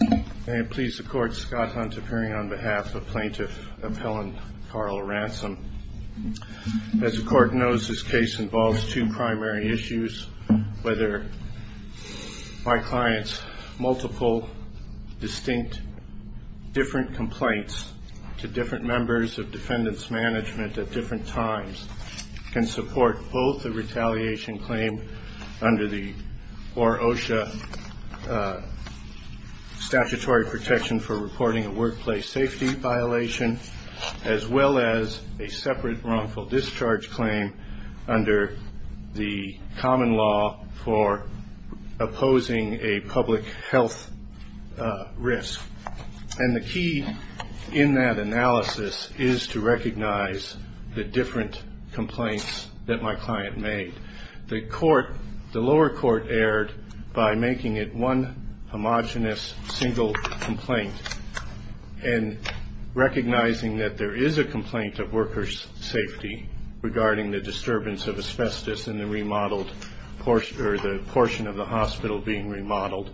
May it please the Court, Scott Hunt appearing on behalf of Plaintiff of Helen Carl Ransom. As the Court knows, this case involves two primary issues, whether my client's multiple, distinct, different complaints to different members of defendants' management at different times can support both a retaliation claim under the OR-OSHA statutory protection for reporting a workplace safety violation, as well as a separate wrongful discharge claim under the common law for opposing a public health risk. And the key in that analysis is to recognize the different complaints that my client made. The lower court erred by making it one homogenous, single complaint and recognizing that there is a complaint of workers' safety regarding the disturbance of asbestos in the portion of the hospital being remodeled,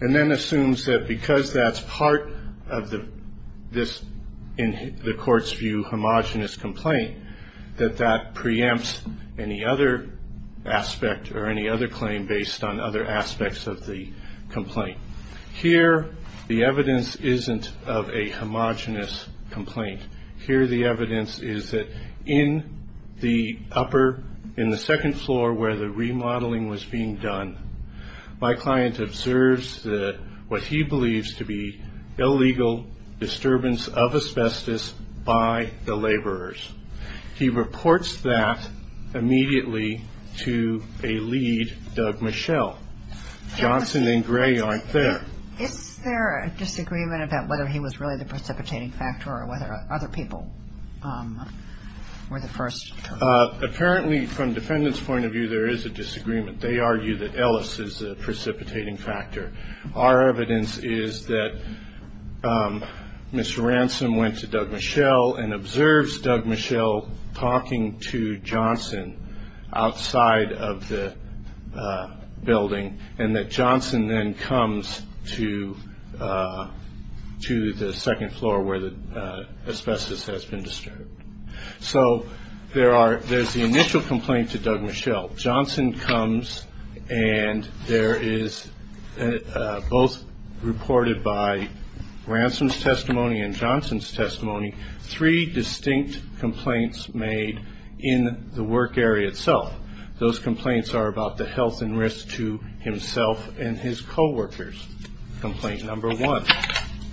and then assumes that because that's part of this, in the Court's view, homogenous complaint, that that preempts any other aspect or any other claim based on other aspects of the complaint. Here, the evidence isn't of a homogenous complaint. Here the evidence is that in the upper, in the second floor where the remodeling was being done, my client observes what he believes to be illegal disturbance of asbestos by the laborers. He reports that immediately to a lead, Doug Michel. Johnson and Gray aren't there. Is there a disagreement about whether he was really the precipitating factor or whether other people were the first? Apparently, from defendants' point of view, there is a disagreement. They argue that Ellis is the precipitating factor. Our evidence is that Mr. Ransom went to Doug Michel and observes Doug Michel talking to Johnson outside of the building and that Johnson then comes to the second floor where the asbestos has been disturbed. So there's the initial complaint to Doug Michel. Johnson comes and there is, both reported by Ransom's testimony and Johnson's testimony, three distinct complaints made in the work area itself. Those complaints are about the health and risk to himself and his coworkers. Complaint number one,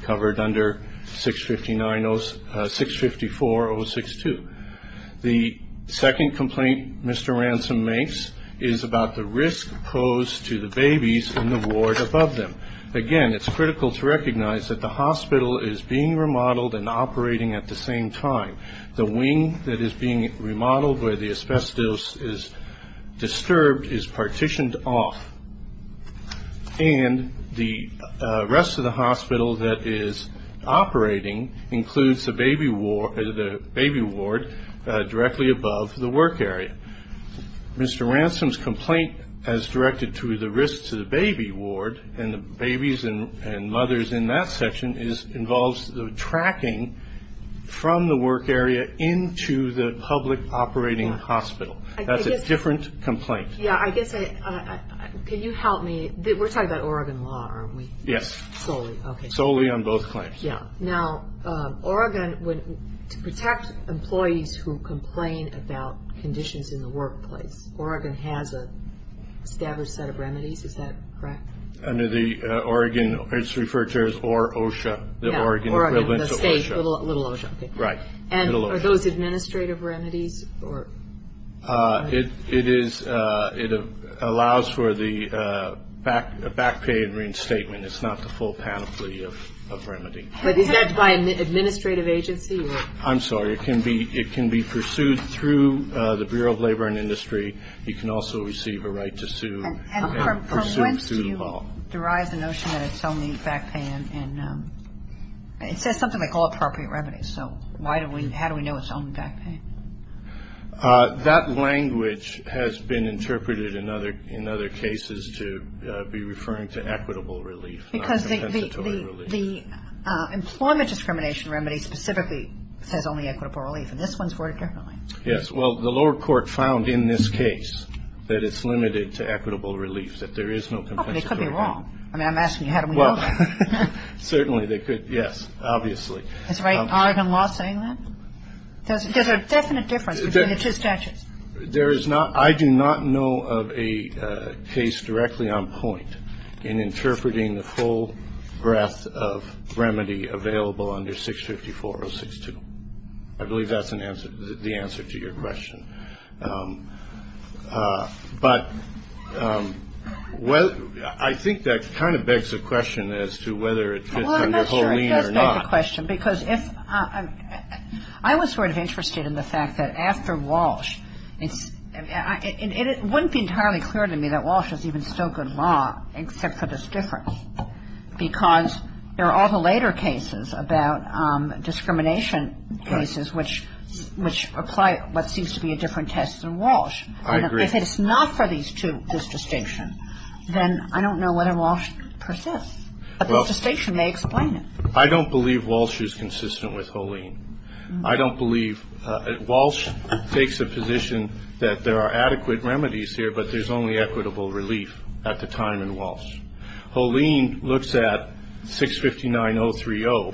covered under 654-062. The second complaint Mr. Ransom makes is about the risk posed to the babies in the ward above them. Again, it's critical to recognize that the hospital is being remodeled and operating at the same time. The wing that is being remodeled where the asbestos is disturbed is partitioned off, and the rest of the hospital that is operating includes the baby ward directly above the work area. Mr. Ransom's complaint as directed to the risk to the baby ward and the babies and mothers in that section involves the tracking from the work area into the public operating hospital. That's a different complaint. Yeah, I guess, can you help me? We're talking about Oregon law, aren't we? Yes. Solely, okay. Solely on both claims. Yeah. Now, Oregon, to protect employees who complain about conditions in the workplace, Oregon has an established set of remedies, is that correct? Under the Oregon, it's referred to as OR-OSHA, the Oregon equivalent to OSHA. Oregon, the state, little OSHA, okay. Right, little OSHA. And are those administrative remedies? It is. It allows for the back pay and reinstatement. It's not the full panoply of remedy. But is that by an administrative agency? I'm sorry. It can be pursued through the Bureau of Labor and Industry. You can also receive a right to sue and pursue through the law. And from whence do you derive the notion that it's only back paying? It says something like all appropriate remedies, so how do we know it's only back paying? That language has been interpreted in other cases to be referring to equitable relief, not compensatory relief. Because the employment discrimination remedy specifically says only equitable relief, and this one's for it differently. Yes. Well, the lower court found in this case that it's limited to equitable relief, that there is no compensatory relief. Oh, but they could be wrong. I mean, I'm asking you how do we know that. Well, certainly they could, yes, obviously. Is Oregon law saying that? There's a definite difference between the two statutes. I do not know of a case directly on point in interpreting the full breadth of remedy available under 654-062. I believe that's the answer to your question. But I think that kind of begs the question as to whether it fits under Holeen or not. I was sort of interested in the fact that after Walsh, and it wouldn't be entirely clear to me that Walsh is even still good law except for this difference, because there are all the later cases about discrimination cases, which apply what seems to be a different test than Walsh. I agree. If it's not for these two, this distinction, then I don't know whether Walsh persists. But this distinction may explain it. I don't believe Walsh is consistent with Holeen. I don't believe Walsh takes a position that there are adequate remedies here, but there's only equitable relief at the time in Walsh. Holeen looks at 659-030,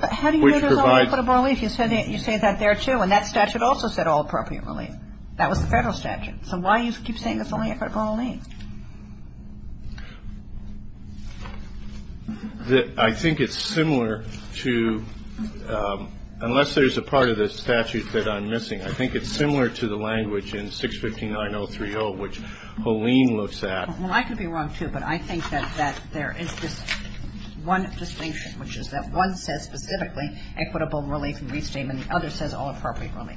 which provides. But how do you know there's only equitable relief? You say that there, too, and that statute also said all appropriate relief. That was the Federal statute. So why do you keep saying there's only equitable relief? I think it's similar to, unless there's a part of the statute that I'm missing, I think it's similar to the language in 659-030, which Holeen looks at. Well, I could be wrong, too, but I think that there is this one distinction, which is that one says specifically equitable relief and restatement, and the other says all appropriate relief.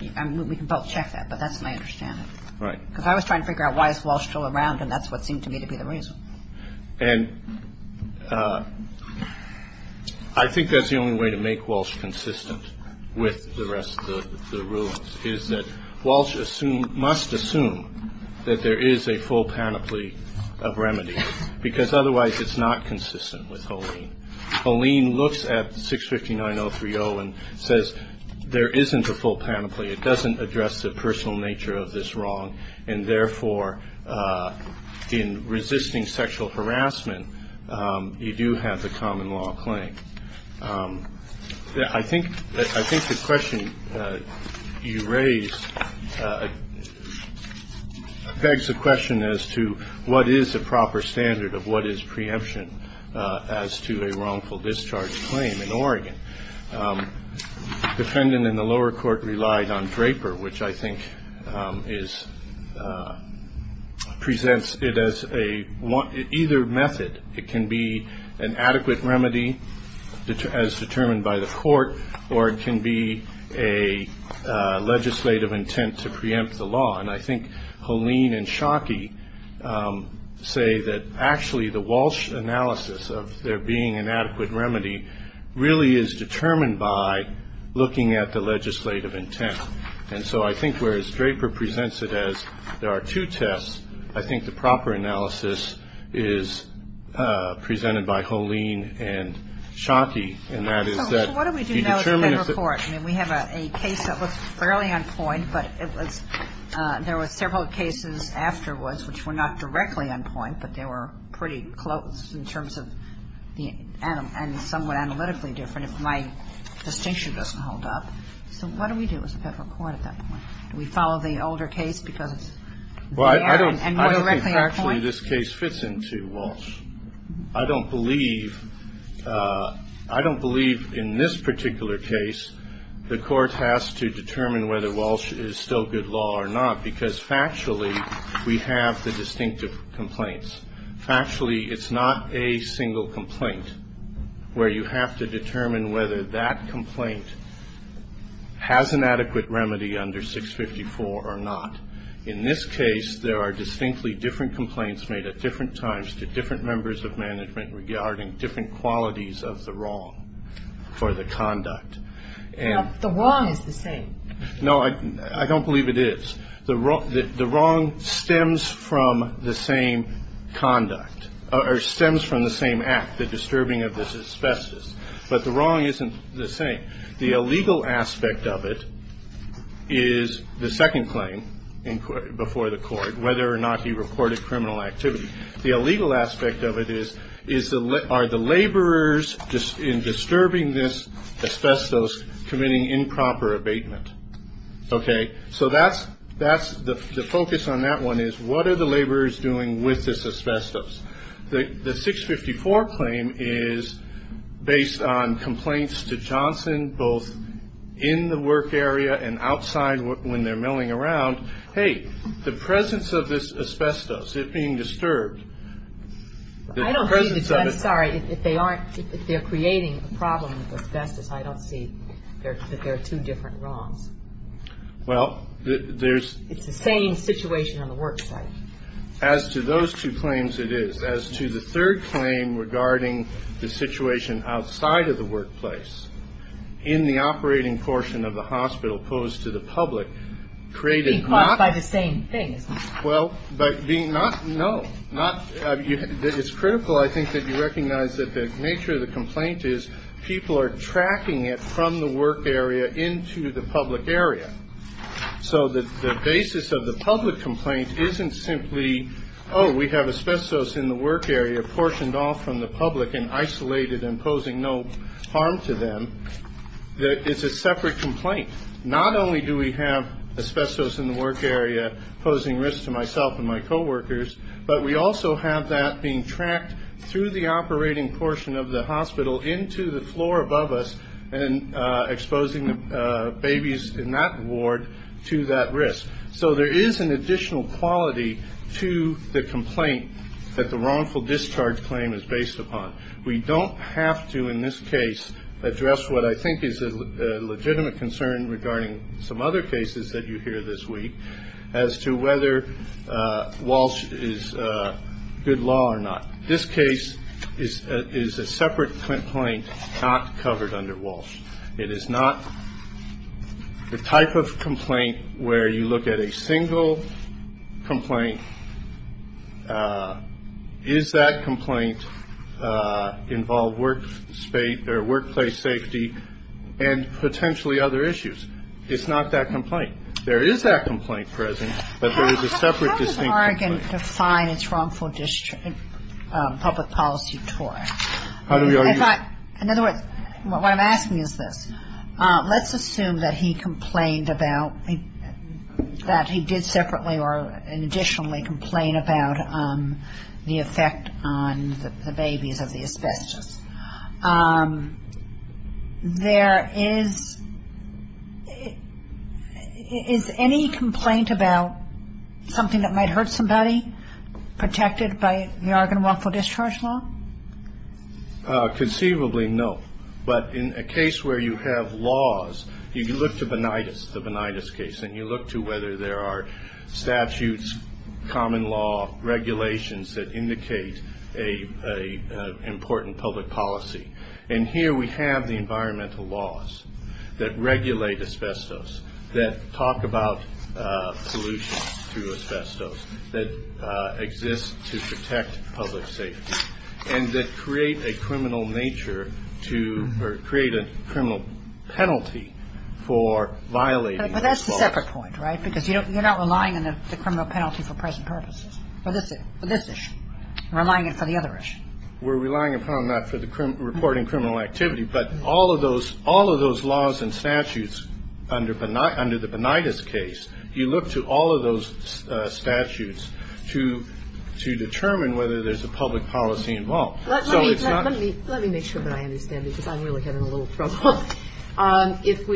We can both check that, but that's my understanding. Right. Because I was trying to figure out why is Walsh still around, and that's what seemed to me to be the reason. And I think that's the only way to make Walsh consistent with the rest of the rulings, is that Walsh must assume that there is a full panoply of remedies, because otherwise it's not consistent with Holeen. Holeen looks at 659-030 and says there isn't a full panoply. It doesn't address the personal nature of this wrong, and therefore in resisting sexual harassment you do have the common law claim. I think the question you raised begs the question as to what is a proper standard of what is preemption as to a wrongful discharge claim in Oregon. The defendant in the lower court relied on Draper, which I think presents it as either method. It can be an adequate remedy as determined by the court, or it can be a legislative intent to preempt the law. And I think Holeen and Schottky say that actually the Walsh analysis of there being an adequate remedy really is determined by looking at the legislative intent. And so I think whereas Draper presents it as there are two tests, I think the proper analysis is presented by Holeen and Schottky, and that is that you determine if the ---- There were several cases afterwards which were not directly on point, but they were pretty close in terms of the ---- and somewhat analytically different, if my distinction doesn't hold up. So what do we do as a federal court at that point? Do we follow the older case because it's ---- Well, I don't think actually this case fits into Walsh. I don't believe ---- I don't believe in this particular case the court has to determine whether Walsh is still good law or not because factually we have the distinctive complaints. Factually, it's not a single complaint where you have to determine whether that complaint has an adequate remedy under 654 or not. In this case, there are distinctly different complaints made at different times to different members of management regarding different qualities of the wrong for the conduct. Now, the wrong is the same. No, I don't believe it is. The wrong stems from the same conduct or stems from the same act, the disturbing of this asbestos. But the wrong isn't the same. The illegal aspect of it is the second claim before the court, whether or not he reported criminal activity. The illegal aspect of it is are the laborers in disturbing this asbestos committing improper abatement? Okay, so that's the focus on that one is what are the laborers doing with this asbestos? The 654 claim is based on complaints to Johnson both in the work area and outside when they're milling around. Hey, the presence of this asbestos, it being disturbed, the presence of it. I'm sorry. If they aren't, if they're creating a problem with asbestos, I don't see that there are two different wrongs. Well, there's. It's the same situation on the work site. As to those two claims, it is. As to the third claim regarding the situation outside of the workplace, in the operating portion of the hospital posed to the public, created by the same thing. Well, but being not, no, not. It's critical, I think, that you recognize that the nature of the complaint is people are tracking it from the work area into the public area. So the basis of the public complaint isn't simply, oh, we have asbestos in the work area, portioned off from the public and isolated and posing no harm to them. It's a separate complaint. Not only do we have asbestos in the work area posing risk to myself and my coworkers, but we also have that being tracked through the operating portion of the hospital into the floor above us and exposing the babies in that ward to that risk. So there is an additional quality to the complaint that the wrongful discharge claim is based upon. We don't have to, in this case, address what I think is a legitimate concern regarding some other cases that you hear this week, as to whether Walsh is good law or not. This case is a separate complaint not covered under Walsh. It is not the type of complaint where you look at a single complaint. Is that complaint involved workplace safety and potentially other issues? It's not that complaint. There is that complaint present, but there is a separate distinct complaint. It's wrongful public policy. In other words, what I'm asking is this. Let's assume that he complained about, that he did separately or additionally complain about the effect on the babies of the asbestos. There is, is any complaint about something that might hurt somebody protected by the Argonne Wrongful Discharge Law? Conceivably, no. But in a case where you have laws, you can look to Bonitas, the Bonitas case, and you look to whether there are statutes, common law, regulations that indicate an important public policy. And here we have the environmental laws that regulate asbestos, that talk about pollution through asbestos, that exist to protect public safety, and that create a criminal nature to, or create a criminal penalty for violating those laws. But that's a separate point, right? Because you're not relying on the criminal penalty for present purposes. For this issue. For this issue. You're relying on it for the other issue. We're relying upon that for the reporting criminal activity, but all of those laws and statutes under the Bonitas case, you look to all of those statutes to determine whether there's a public policy involved. Let me make sure that I understand, because I'm really having a little trouble. If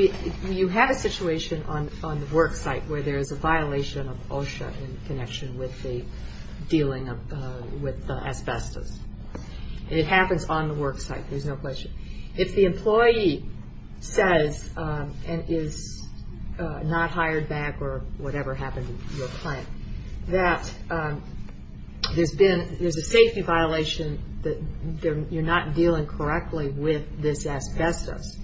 you have a situation on the work site where there's a violation of OSHA in connection with the dealing with asbestos. It happens on the work site, there's no question. If the employee says, and is not hired back or whatever happened to your client, that there's a safety violation, that you're not dealing correctly with this asbestos,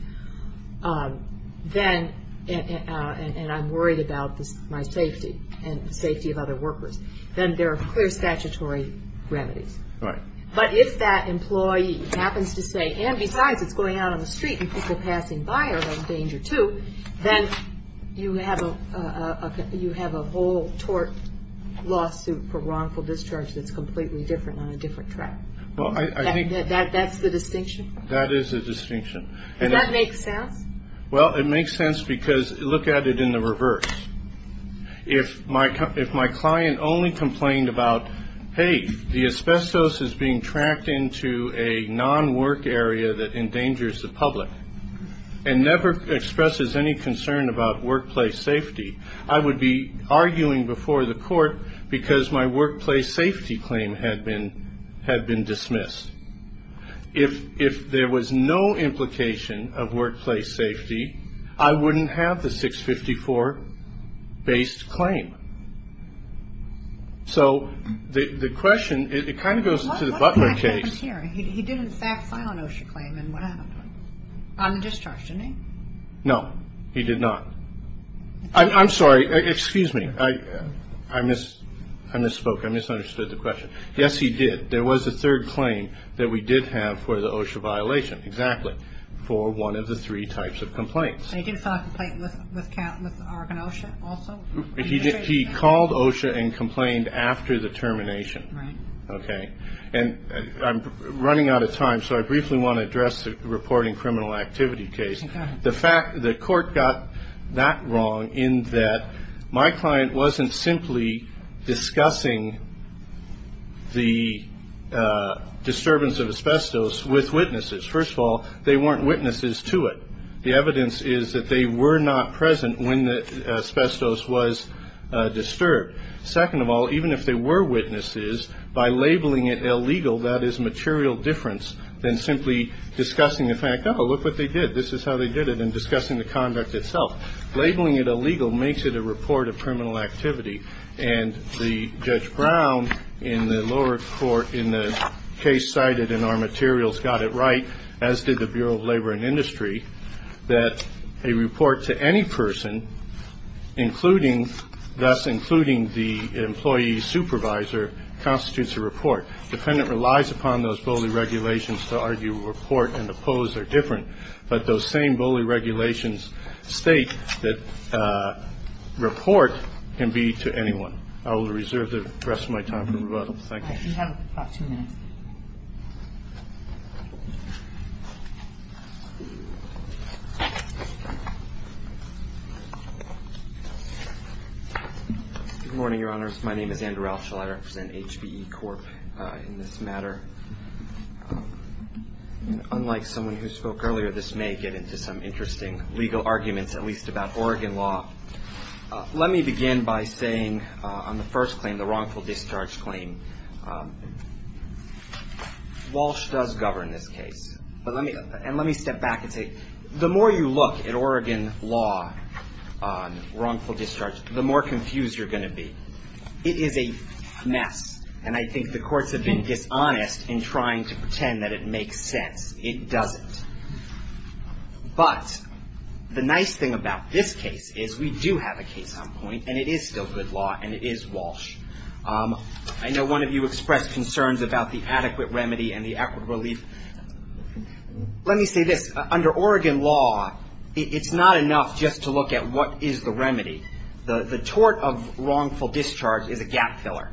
then, and I'm worried about my safety and the safety of other workers, then there are clear statutory remedies. Right. But if that employee happens to say, and besides, it's going out on the street and people passing by are in danger, too, then you have a whole tort lawsuit for wrongful discharge that's completely different on a different track. That's the distinction? That is the distinction. Does that make sense? Well, it makes sense because look at it in the reverse. If my client only complained about, hey, the asbestos is being tracked into a non-work area that endangers the public and never expresses any concern about workplace safety, I would be arguing before the court because my workplace safety claim had been dismissed. If there was no implication of workplace safety, I wouldn't have the 654-based claim. So the question, it kind of goes to the Butler case. What happened here? He did, in fact, file an OSHA claim, and what happened? On the discharge, didn't he? No, he did not. I'm sorry. Excuse me. I misspoke. I misunderstood the question. Yes, he did. There was a third claim that we did have for the OSHA violation, exactly, for one of the three types of complaints. And he did file a complaint with Oregon OSHA also? He did. He called OSHA and complained after the termination. Right. Okay. And I'm running out of time, so I briefly want to address the reporting criminal activity case. The court got that wrong in that my client wasn't simply discussing the disturbance of asbestos with witnesses. First of all, they weren't witnesses to it. The evidence is that they were not present when the asbestos was disturbed. Second of all, even if they were witnesses, by labeling it illegal, that is material difference than simply discussing the fact, oh, look what they did, this is how they did it, and discussing the conduct itself. Labeling it illegal makes it a report of criminal activity. And the Judge Brown in the lower court in the case cited in our materials got it right, as did the Bureau of Labor and Industry, that a report to any person, thus including the employee supervisor, constitutes a report. Defendant relies upon those BOLI regulations to argue report and oppose are different. But those same BOLI regulations state that report can be to anyone. I will reserve the rest of my time for rebuttal. Thank you. You have about two minutes. Good morning, Your Honors. My name is Andrew Roushel. I represent HBE Corp. in this matter. Unlike someone who spoke earlier, this may get into some interesting legal arguments, at least about Oregon law. Let me begin by saying on the first claim, the wrongful discharge claim, Walsh does govern this case. And let me step back and say, the more you look at Oregon law on wrongful discharge, the more confused you're going to be. It is a mess. And I think the courts have been dishonest in trying to pretend that it makes sense. It doesn't. But the nice thing about this case is we do have a case on point, and it is still good law, and it is Walsh. I know one of you expressed concerns about the adequate remedy and the adequate relief. Let me say this. Under Oregon law, it's not enough just to look at what is the remedy. The tort of wrongful discharge is a gap filler.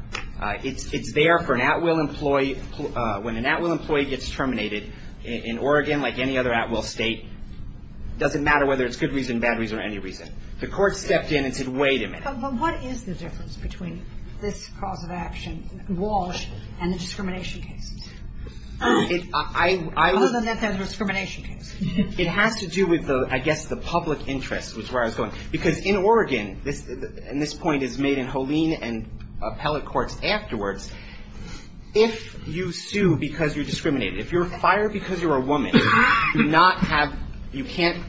It's there for an at-will employee. When an at-will employee gets terminated, in Oregon, like any other at-will state, it doesn't matter whether it's good reason, bad reason, or any reason. The court stepped in and said, wait a minute. But what is the difference between this cause of action, Walsh, and the discrimination cases? Other than that there's a discrimination case. It has to do with, I guess, the public interest, which is where I was going. Because in Oregon, and this point is made in Holeen and appellate courts afterwards, if you sue because you're discriminated, if you're fired because you're a woman, you can't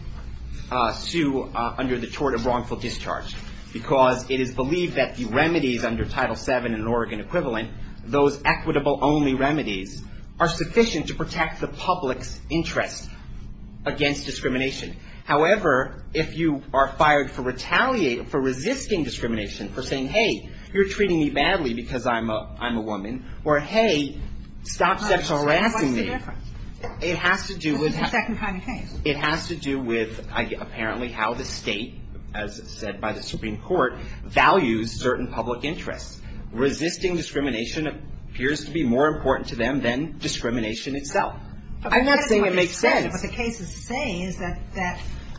sue under the tort of wrongful discharge, because it is believed that the remedies under Title VII in Oregon equivalent, those equitable only remedies, are sufficient to protect the public's interest against discrimination. However, if you are fired for resisting discrimination, for saying, hey, you're treating me badly because I'm a woman. Or, hey, stop sexual harassing me. It has to do with how the state, as said by the Supreme Court, values certain public interests. Resisting discrimination appears to be more important to them than discrimination itself. I'm not saying it makes sense. What the cases say is that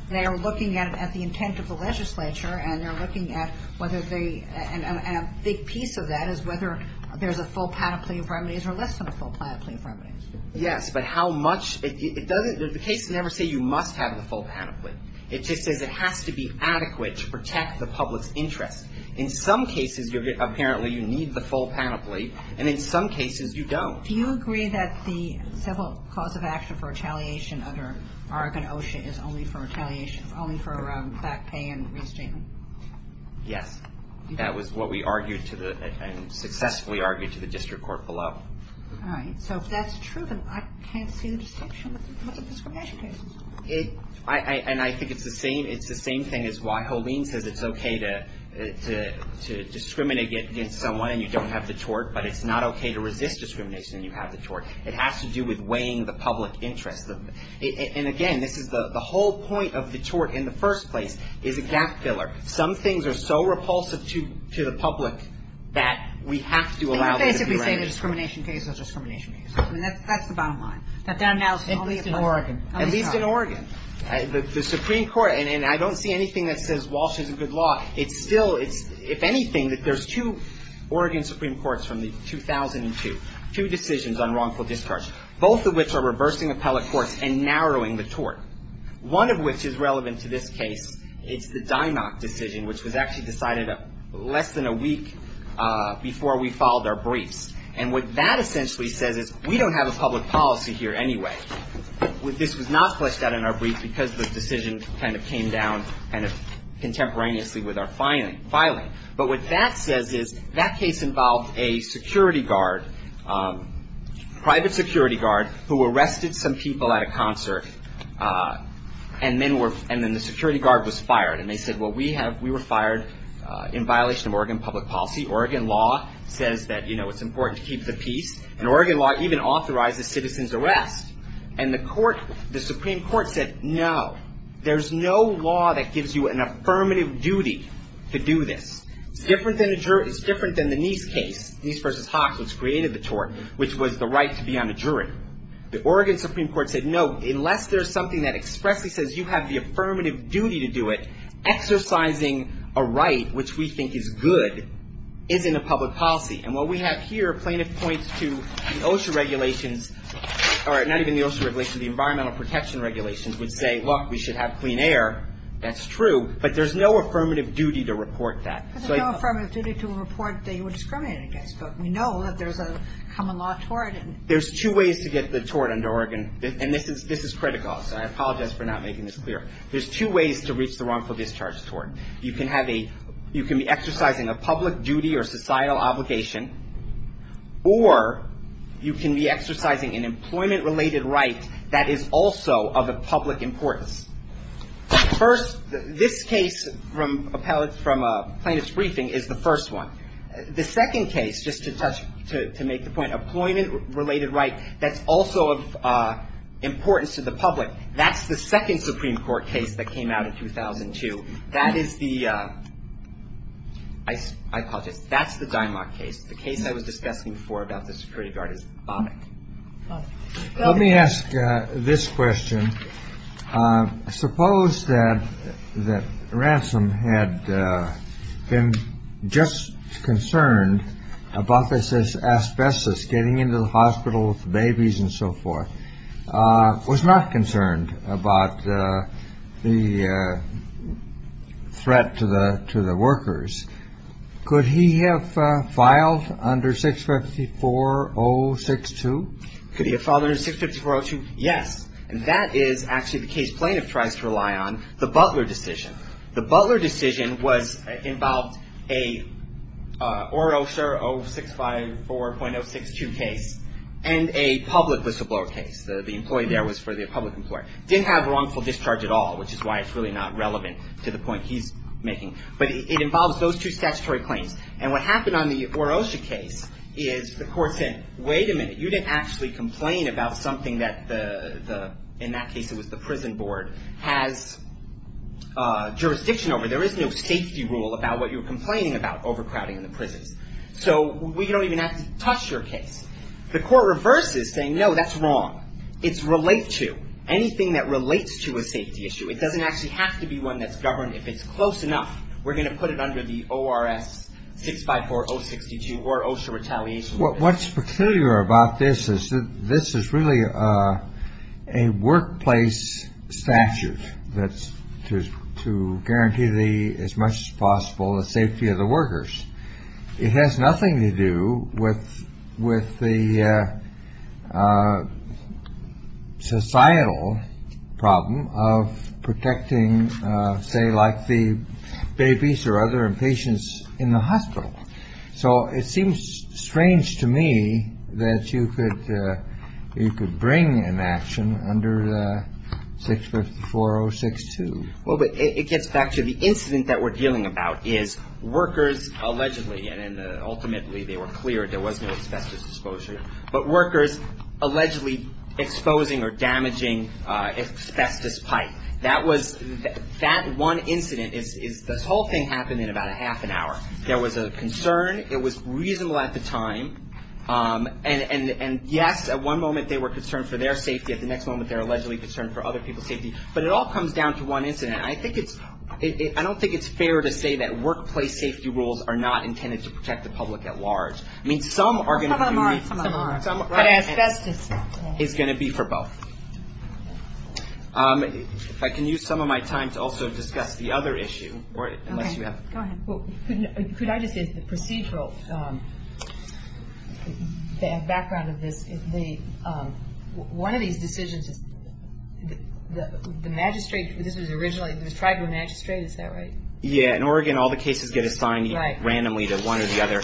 they are looking at the intent of the legislature, and they're looking at whether they, and a big piece of that is whether there's a full panoply of remedies or less than a full panoply of remedies. Yes, but how much, it doesn't, the cases never say you must have the full panoply. It just says it has to be adequate to protect the public's interest. In some cases, apparently you need the full panoply, and in some cases you don't. Do you agree that the civil cause of action for retaliation under Oregon OSHA is only for retaliation, is only for back pay and restating? Yes. That was what we argued to the, and successfully argued to the district court below. All right. So if that's true, then I can't see the distinction with the discrimination cases. And I think it's the same thing as why Holeen says it's okay to discriminate against someone and you don't have the tort, but it's not okay to resist discrimination and you have the tort. It has to do with weighing the public interest. And, again, this is the whole point of the tort in the first place is a gap filler. Some things are so repulsive to the public that we have to allow them to be remedies. And you're basically saying the discrimination case is a discrimination case. I mean, that's the bottom line, that that analysis is only in Oregon. At least in Oregon. The Supreme Court, and I don't see anything that says Walsh is a good law. It's still, if anything, that there's two Oregon Supreme Courts from 2002, two decisions on wrongful discharge, both of which are reversing appellate courts and narrowing the tort. One of which is relevant to this case. It's the Dinock decision, which was actually decided less than a week before we filed our briefs. And what that essentially says is we don't have a public policy here anyway. This was not fleshed out in our brief because the decision kind of came down kind of contemporaneously with our filing. But what that says is that case involved a security guard, private security guard, who arrested some people at a concert and then the security guard was fired. And they said, well, we were fired in violation of Oregon public policy. Oregon law says that, you know, it's important to keep the peace. And Oregon law even authorizes citizen's arrest. And the court, the Supreme Court said no. There's no law that gives you an affirmative duty to do this. It's different than the Nease case, Nease v. Hawks, which created the tort, which was the right to be on a jury. The Oregon Supreme Court said no. Unless there's something that expressly says you have the affirmative duty to do it, exercising a right which we think is good isn't a public policy. And what we have here plaintiff points to the OSHA regulations. All right. Not even the OSHA regulations. The environmental protection regulations would say, look, we should have clean air. That's true. But there's no affirmative duty to report that. But there's no affirmative duty to report that you were discriminated against. But we know that there's a common law tort. There's two ways to get the tort under Oregon. And this is critical. So I apologize for not making this clear. There's two ways to reach the wrongful discharge tort. You can have a, you can be exercising a public duty or societal obligation, or you can be exercising an employment-related right that is also of a public importance. First, this case from plaintiff's briefing is the first one. The second case, just to touch, to make the point, employment-related right that's also of importance to the public, that's the second Supreme Court case that came out in 2002. That is the, I apologize, that's the Dymock case. The case I was discussing before about the security guard is Bonick. Let me ask this question. Suppose that that Ransom had been just concerned about this asbestos getting into the hospital with the babies and so forth, was not concerned about the threat to the workers. Could he have filed under 654-062? Could he have filed under 654-062? Yes. And that is actually the case plaintiff tries to rely on, the Butler decision. The Butler decision was, involved a Orosha 0654.062 case and a public whistleblower case. The employee there was for the public employer. Didn't have wrongful discharge at all, which is why it's really not relevant to the point he's making. But it involves those two statutory claims. And what happened on the Orosha case is the court said, wait a minute, you didn't actually complain about something that the, in that case it was the prison board, has jurisdiction over. There is no safety rule about what you're complaining about, overcrowding in the prisons. So we don't even have to touch your case. The court reverses saying, no, that's wrong. It's relate to. Anything that relates to a safety issue. It doesn't actually have to be one that's governed. If it's close enough, we're going to put it under the ORS 654-062 or Orosha retaliation. What's peculiar about this is that this is really a workplace statute. That's just to guarantee the as much as possible the safety of the workers. It has nothing to do with with the societal problem of protecting, say, like the babies or other patients in the hospital. So it seems strange to me that you could you could bring an action under the 654-062. Well, but it gets back to the incident that we're dealing about is workers allegedly and ultimately they were cleared. There was no asbestos exposure, but workers allegedly exposing or damaging asbestos pipe. That was that one incident is this whole thing happened in about a half an hour. There was a concern. It was reasonable at the time. And yes, at one moment they were concerned for their safety. At the next moment, they're allegedly concerned for other people's safety. But it all comes down to one incident. I think it's I don't think it's fair to say that workplace safety rules are not intended to protect the public at large. I mean, some are going to be asbestos is going to be for both. I can use some of my time to also discuss the other issue. Unless you have. Could I just get the procedural background of this? One of these decisions is the magistrate. This was originally the tribunal magistrate. Is that right? Yeah. In Oregon, all the cases get assigned randomly to one or the other.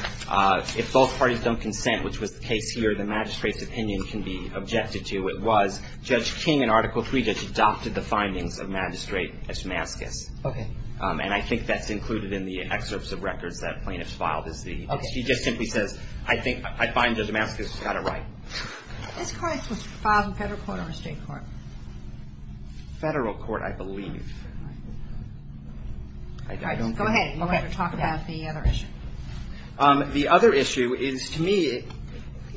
If both parties don't consent, which was the case here, the magistrate's opinion can be objected to. It was Judge King in Article Three that adopted the findings of Magistrate Etchmaskis. Okay. And I think that's included in the excerpts of records that plaintiffs filed. He just simply says, I think I find Judge Etchmaskis has got it right. This case was filed in federal court or state court? Federal court, I believe. All right. Go ahead. We'll talk about the other issue. The other issue is, to me,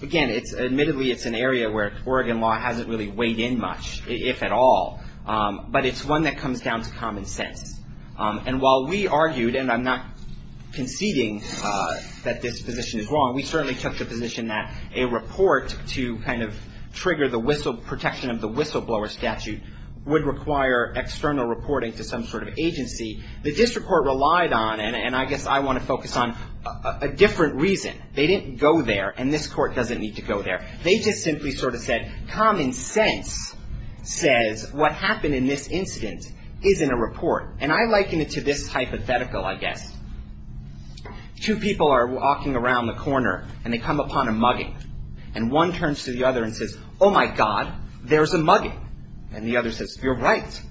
again, admittedly, it's an area where Oregon law hasn't really weighed in much, if at all. But it's one that comes down to common sense. And while we argued, and I'm not conceding that this position is wrong, we certainly took the position that a report to kind of trigger the protection of the whistleblower statute The district court relied on, and I guess I want to focus on, a different reason. They didn't go there, and this court doesn't need to go there. They just simply sort of said, common sense says what happened in this incident isn't a report. And I liken it to this hypothetical, I guess. Two people are walking around the corner, and they come upon a mugging. And one turns to the other and says, oh, my God, there's a mugging. And the other says, you're right.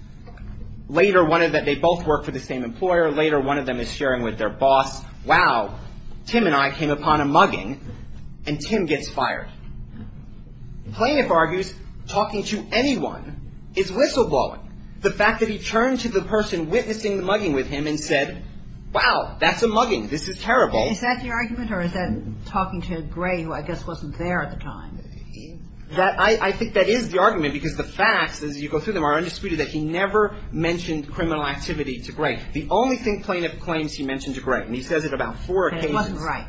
Later, one of them, they both work for the same employer. Later, one of them is sharing with their boss, wow, Tim and I came upon a mugging, and Tim gets fired. The plaintiff argues talking to anyone is whistleblowing. The fact that he turned to the person witnessing the mugging with him and said, wow, that's a mugging, this is terrible. Is that the argument, or is that talking to Gray, who I guess wasn't there at the time? I think that is the argument, because the facts, as you go through them, are undisputed that he never mentioned criminal activity to Gray. The only thing plaintiff claims he mentioned to Gray, and he says it about four occasions. It wasn't right.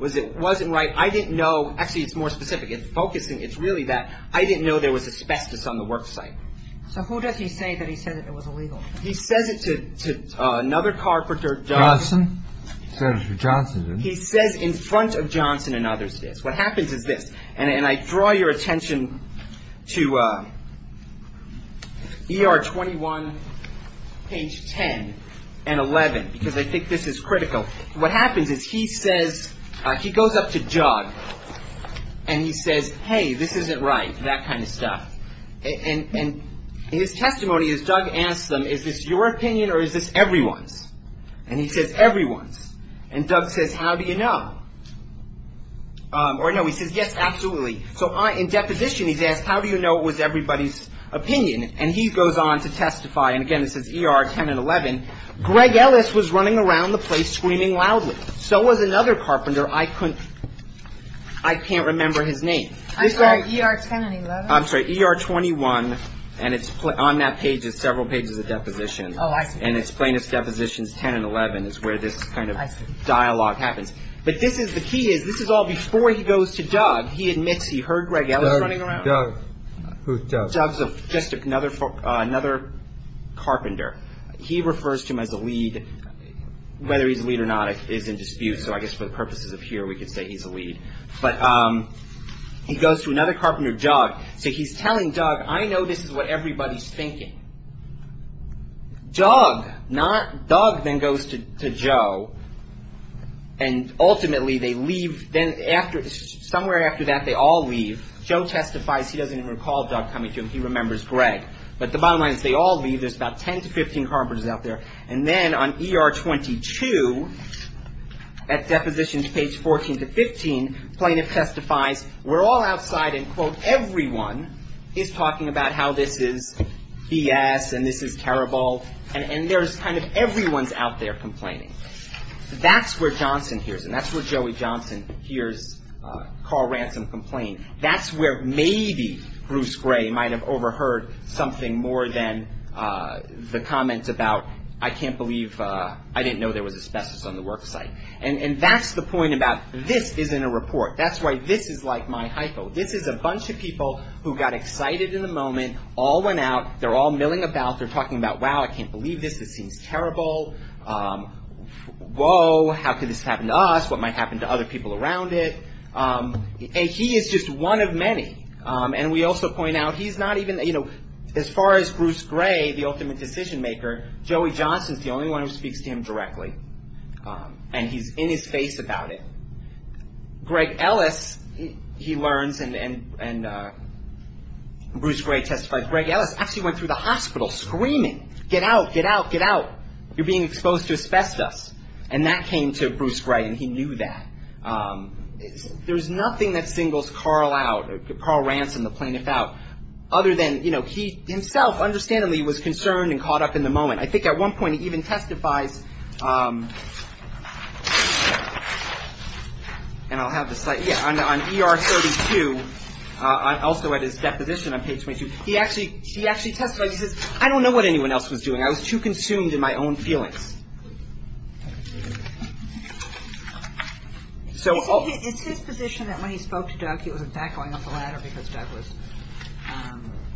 It wasn't right. I didn't know. Actually, it's more specific. It's focusing. It's really that I didn't know there was asbestos on the work site. So who does he say that he said that it was illegal? He says it to another carpenter, Johnson. Johnson. He says in front of Johnson and others this. What happens is this. And I draw your attention to ER 21, page 10 and 11, because I think this is critical. What happens is he says, he goes up to Doug, and he says, hey, this isn't right, that kind of stuff. And his testimony is Doug asks them, is this your opinion or is this everyone's? And he says, everyone's. And Doug says, how do you know? Or, no, he says, yes, absolutely. So in deposition, he's asked, how do you know it was everybody's opinion? And he goes on to testify. And, again, it says ER 10 and 11. Greg Ellis was running around the place screaming loudly. So was another carpenter. I couldn't, I can't remember his name. I'm sorry, ER 10 and 11? I'm sorry, ER 21. And it's on that page is several pages of deposition. Oh, I see. And it's plaintiff's depositions 10 and 11 is where this kind of dialogue happens. But this is, the key is, this is all before he goes to Doug. He admits he heard Greg Ellis running around. Doug. Who's Doug? Doug's just another carpenter. He refers to him as a lead. Whether he's a lead or not is in dispute. So I guess for the purposes of here, we could say he's a lead. But he goes to another carpenter, Doug. So he's telling Doug, I know this is what everybody's thinking. Doug. Doug then goes to Joe. And ultimately they leave. Then after, somewhere after that they all leave. Joe testifies he doesn't even recall Doug coming to him. He remembers Greg. But the bottom line is they all leave. There's about 10 to 15 carpenters out there. And then on ER 22, at depositions page 14 to 15, plaintiff testifies, we're all outside and, quote, everyone is talking about how this is B.S. and this is terrible. And there's kind of everyone's out there complaining. That's where Johnson hears. And that's where Joey Johnson hears Carl Ransom complain. That's where maybe Bruce Gray might have overheard something more than the comments about I can't believe, I didn't know there was asbestos on the worksite. And that's the point about this isn't a report. That's why this is like my hypo. This is a bunch of people who got excited in the moment, all went out. They're all milling about. They're talking about, wow, I can't believe this. This seems terrible. Whoa, how could this happen to us? What might happen to other people around it? And he is just one of many. And we also point out he's not even, you know, as far as Bruce Gray, the ultimate decision maker, Joey Johnson is the only one who speaks to him directly. And he's in his face about it. Greg Ellis, he learns, and Bruce Gray testifies, Greg Ellis actually went through the hospital screaming, get out, get out, get out. You're being exposed to asbestos. And that came to Bruce Gray, and he knew that. There's nothing that singles Carl out, Carl Ransom, the plaintiff out, other than, you know, he himself understandably was concerned and caught up in the moment. And I think at one point he even testifies, and I'll have the slide. Yeah, on ER 32, also at his deposition on page 22, he actually testifies. He says, I don't know what anyone else was doing. I was too consumed in my own feelings. So it's his position that when he spoke to Doug, he was in fact going up the ladder because Doug was.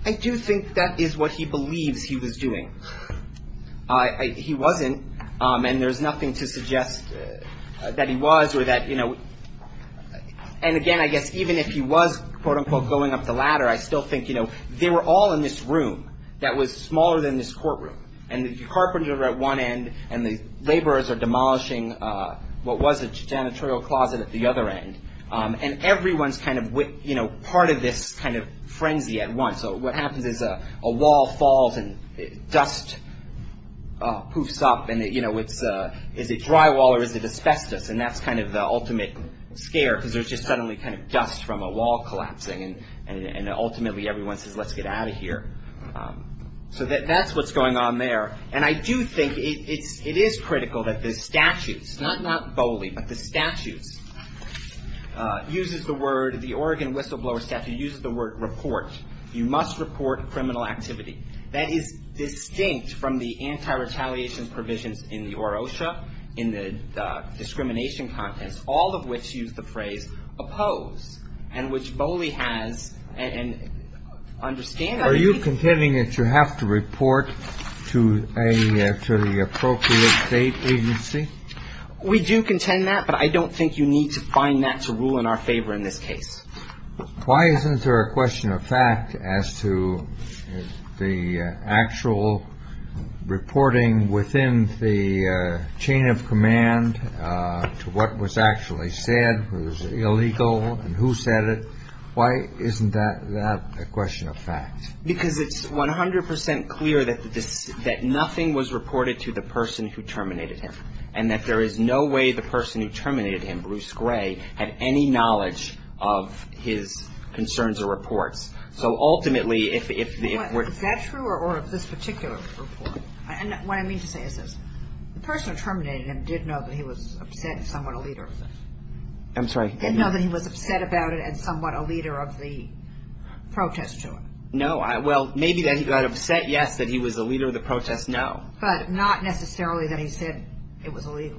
I do think that is what he believes he was doing. He wasn't, and there's nothing to suggest that he was or that, you know, and again, I guess even if he was, quote, unquote, going up the ladder, I still think, you know, they were all in this room that was smaller than this courtroom. And the carpenters were at one end, and the laborers are demolishing what was a janitorial closet at the other end. And everyone's kind of, you know, part of this kind of frenzy at once. So what happens is a wall falls, and dust poofs up, and, you know, is it drywall or is it asbestos? And that's kind of the ultimate scare because there's just suddenly kind of dust from a wall collapsing, and ultimately everyone says, let's get out of here. So that's what's going on there. And I do think it is critical that the statutes, not Bowley, but the statutes uses the word, the Oregon whistleblower statute uses the word report. You must report criminal activity. That is distinct from the anti-retaliation provisions in the OROSHA, in the discrimination contents, all of which use the phrase oppose, and which Bowley has, and understandably. Are you contending that you have to report to the appropriate state agency? We do contend that, but I don't think you need to find that to rule in our favor in this case. Why isn't there a question of fact as to the actual reporting within the chain of command to what was actually said was illegal and who said it? Why isn't that a question of fact? Because it's 100% clear that nothing was reported to the person who terminated him. And that there is no way the person who terminated him, Bruce Gray, had any knowledge of his concerns or reports. So ultimately, if the report ---- Is that true or of this particular report? What I mean to say is this. The person who terminated him did know that he was upset and somewhat a leader of the ---- I'm sorry. Did know that he was upset about it and somewhat a leader of the protest to him. No. Well, maybe that he got upset, yes, that he was a leader of the protest, no. But not necessarily that he said it was illegal.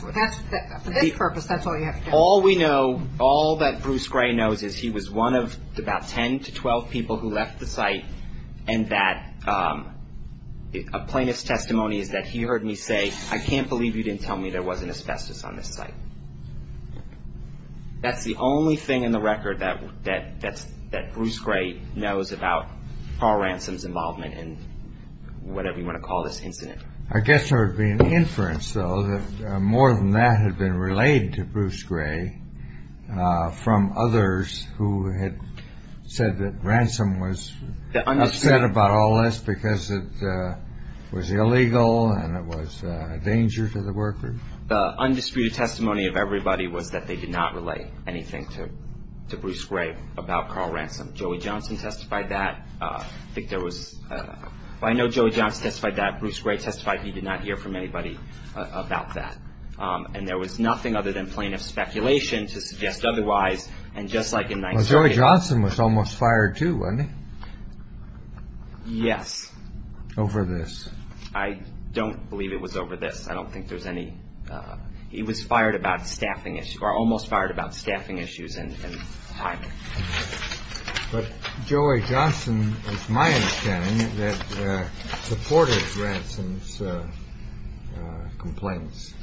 For this purpose, that's all you have to tell me. All we know, all that Bruce Gray knows is he was one of about 10 to 12 people who left the site, and that a plaintiff's testimony is that he heard me say, I can't believe you didn't tell me there wasn't asbestos on this site. That's the only thing in the record that Bruce Gray knows about Paul Ransom's involvement in whatever you want to call this incident. I guess there would be an inference, though, that more than that had been relayed to Bruce Gray from others who had said that Ransom was upset about all this because it was illegal and it was a danger to the workers. The undisputed testimony of everybody was that they did not relay anything to Bruce Gray about Carl Ransom. Joey Johnson testified that. I think there was ---- Well, I know Joey Johnson testified that. Bruce Gray testified he did not hear from anybody about that. And there was nothing other than plaintiff speculation to suggest otherwise. And just like in 1938 ---- Well, Joey Johnson was almost fired, too, wasn't he? Yes. Over this. I don't believe it was over this. I don't think there's any ---- He was fired about staffing issues, or almost fired about staffing issues and time. But Joey Johnson, it's my understanding, that supported Ransom's complaints.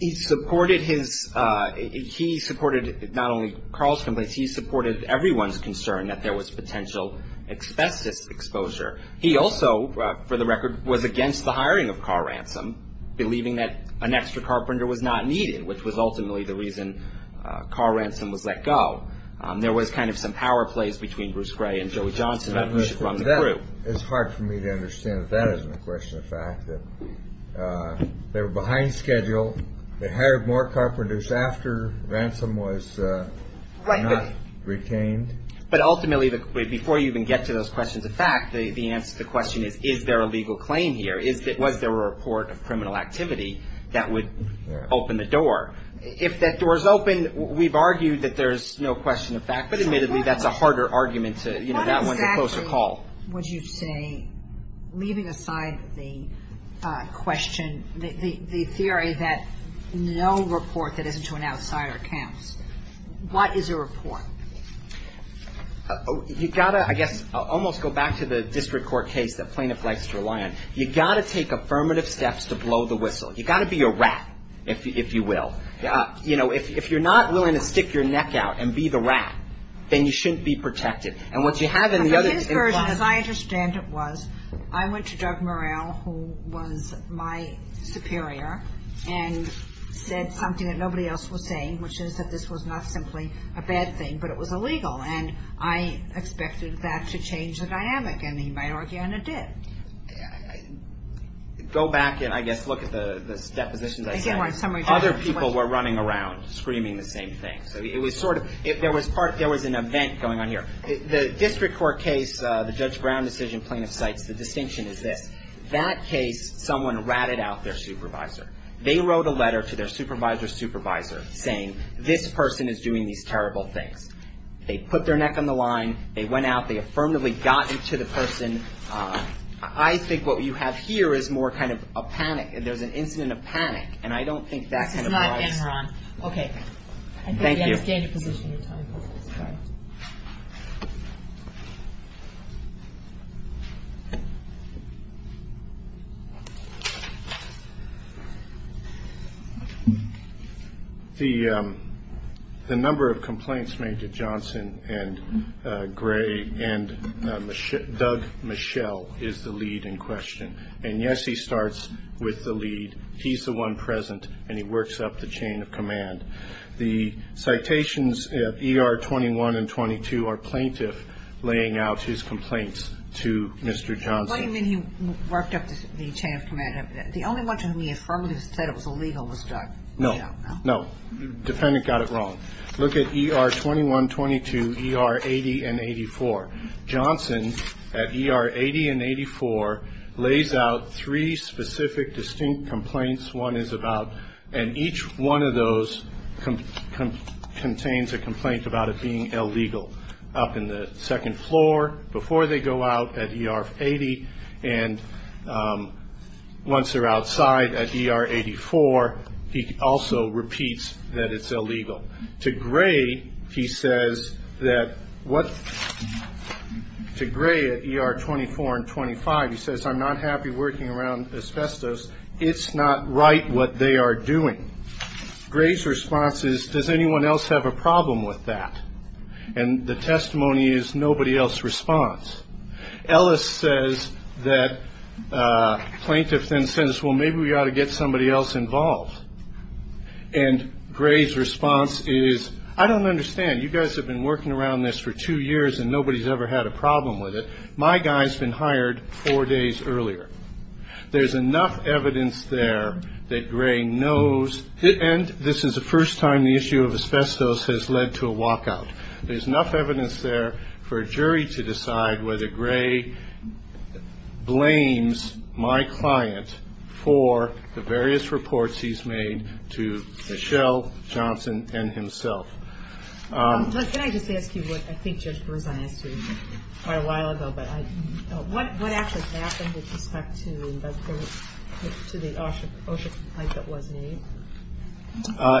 He supported his ---- He supported not only Carl's complaints, he supported everyone's concern that there was potential expestive exposure. He also, for the record, was against the hiring of Carl Ransom, believing that an extra carpenter was not needed, which was ultimately the reason Carl Ransom was let go. There was kind of some power plays between Bruce Gray and Joey Johnson from the group. It's hard for me to understand that that isn't a question of fact, that they were behind schedule, they hired more carpenters after Ransom was not ---- Retained. But ultimately, before you even get to those questions of fact, the answer to the question is, is there a legal claim here? Was there a report of criminal activity that would open the door? If that door is open, we've argued that there's no question of fact, but admittedly that's a harder argument to ---- What exactly would you say, leaving aside the question, the theory that no report that isn't to an outsider counts, what is a report? You've got to, I guess, almost go back to the district court case that plaintiff likes to rely on. You've got to take affirmative steps to blow the whistle. You've got to be a rat, if you will. You know, if you're not willing to stick your neck out and be the rat, then you shouldn't be protected. And what you have in the other ---- As I understand it was, I went to Doug Murrell, who was my superior, and said something that nobody else was saying, which is that this was not simply a bad thing, but it was illegal. And I expected that to change the dynamic. And he might argue, and it did. Go back and, I guess, look at the depositions I sent. Other people were running around screaming the same thing. So it was sort of, there was part, there was an event going on here. The district court case, the Judge Brown decision plaintiff cites, the distinction is this. That case, someone ratted out their supervisor. They wrote a letter to their supervisor's supervisor saying, this person is doing these terrible things. They put their neck on the line. They went out. They affirmatively got into the person. I think what you have here is more kind of a panic. There's an incident of panic. And I don't think that kind of applies. Okay. Thank you. The number of complaints made to Johnson and Gray and Doug Michelle is the lead in question. And, yes, he starts with the lead. He's the one present, and he works up the chain of command. The citations at ER 21 and 22 are plaintiff laying out his complaints to Mr. Johnson. What do you mean he worked up the chain of command? The only one to whom he affirmatively said it was illegal was Doug. No. No. The defendant got it wrong. Look at ER 21, 22, ER 80 and 84. Johnson at ER 80 and 84 lays out three specific distinct complaints one is about. And each one of those contains a complaint about it being illegal. Up in the second floor, before they go out at ER 80, and once they're outside at ER 84, he also repeats that it's illegal. To Gray, he says that what to Gray at ER 24 and 25, he says, I'm not happy working around asbestos. It's not right what they are doing. Gray's response is, does anyone else have a problem with that? And the testimony is, nobody else responds. Ellis says that plaintiff then says, well, maybe we ought to get somebody else involved. And Gray's response is, I don't understand. You guys have been working around this for two years, and nobody's ever had a problem with it. My guy's been hired four days earlier. There's enough evidence there that Gray knows, and this is the first time the issue of asbestos has led to a walkout. There's enough evidence there for a jury to decide whether Gray blames my client for the various reports he's made to Michelle, Johnson, and himself. Can I just ask you what I think Judge Berzai asked you quite a while ago? What actually happened with respect to the OSHA complaint that was made?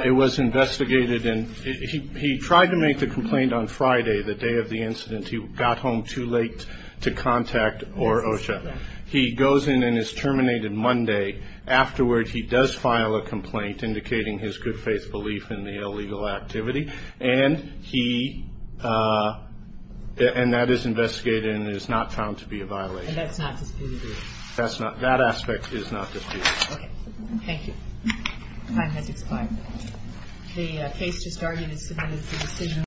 It was investigated, and he tried to make the complaint on Friday, the day of the incident. He got home too late to contact OSHA. He goes in and is terminated Monday. Afterward, he does file a complaint indicating his good-faith belief in the illegal activity. And that is investigated and is not found to be a violation. And that's not disputed? That aspect is not disputed. Okay. Thank you. Time has expired. The case just argued is submitted for decision.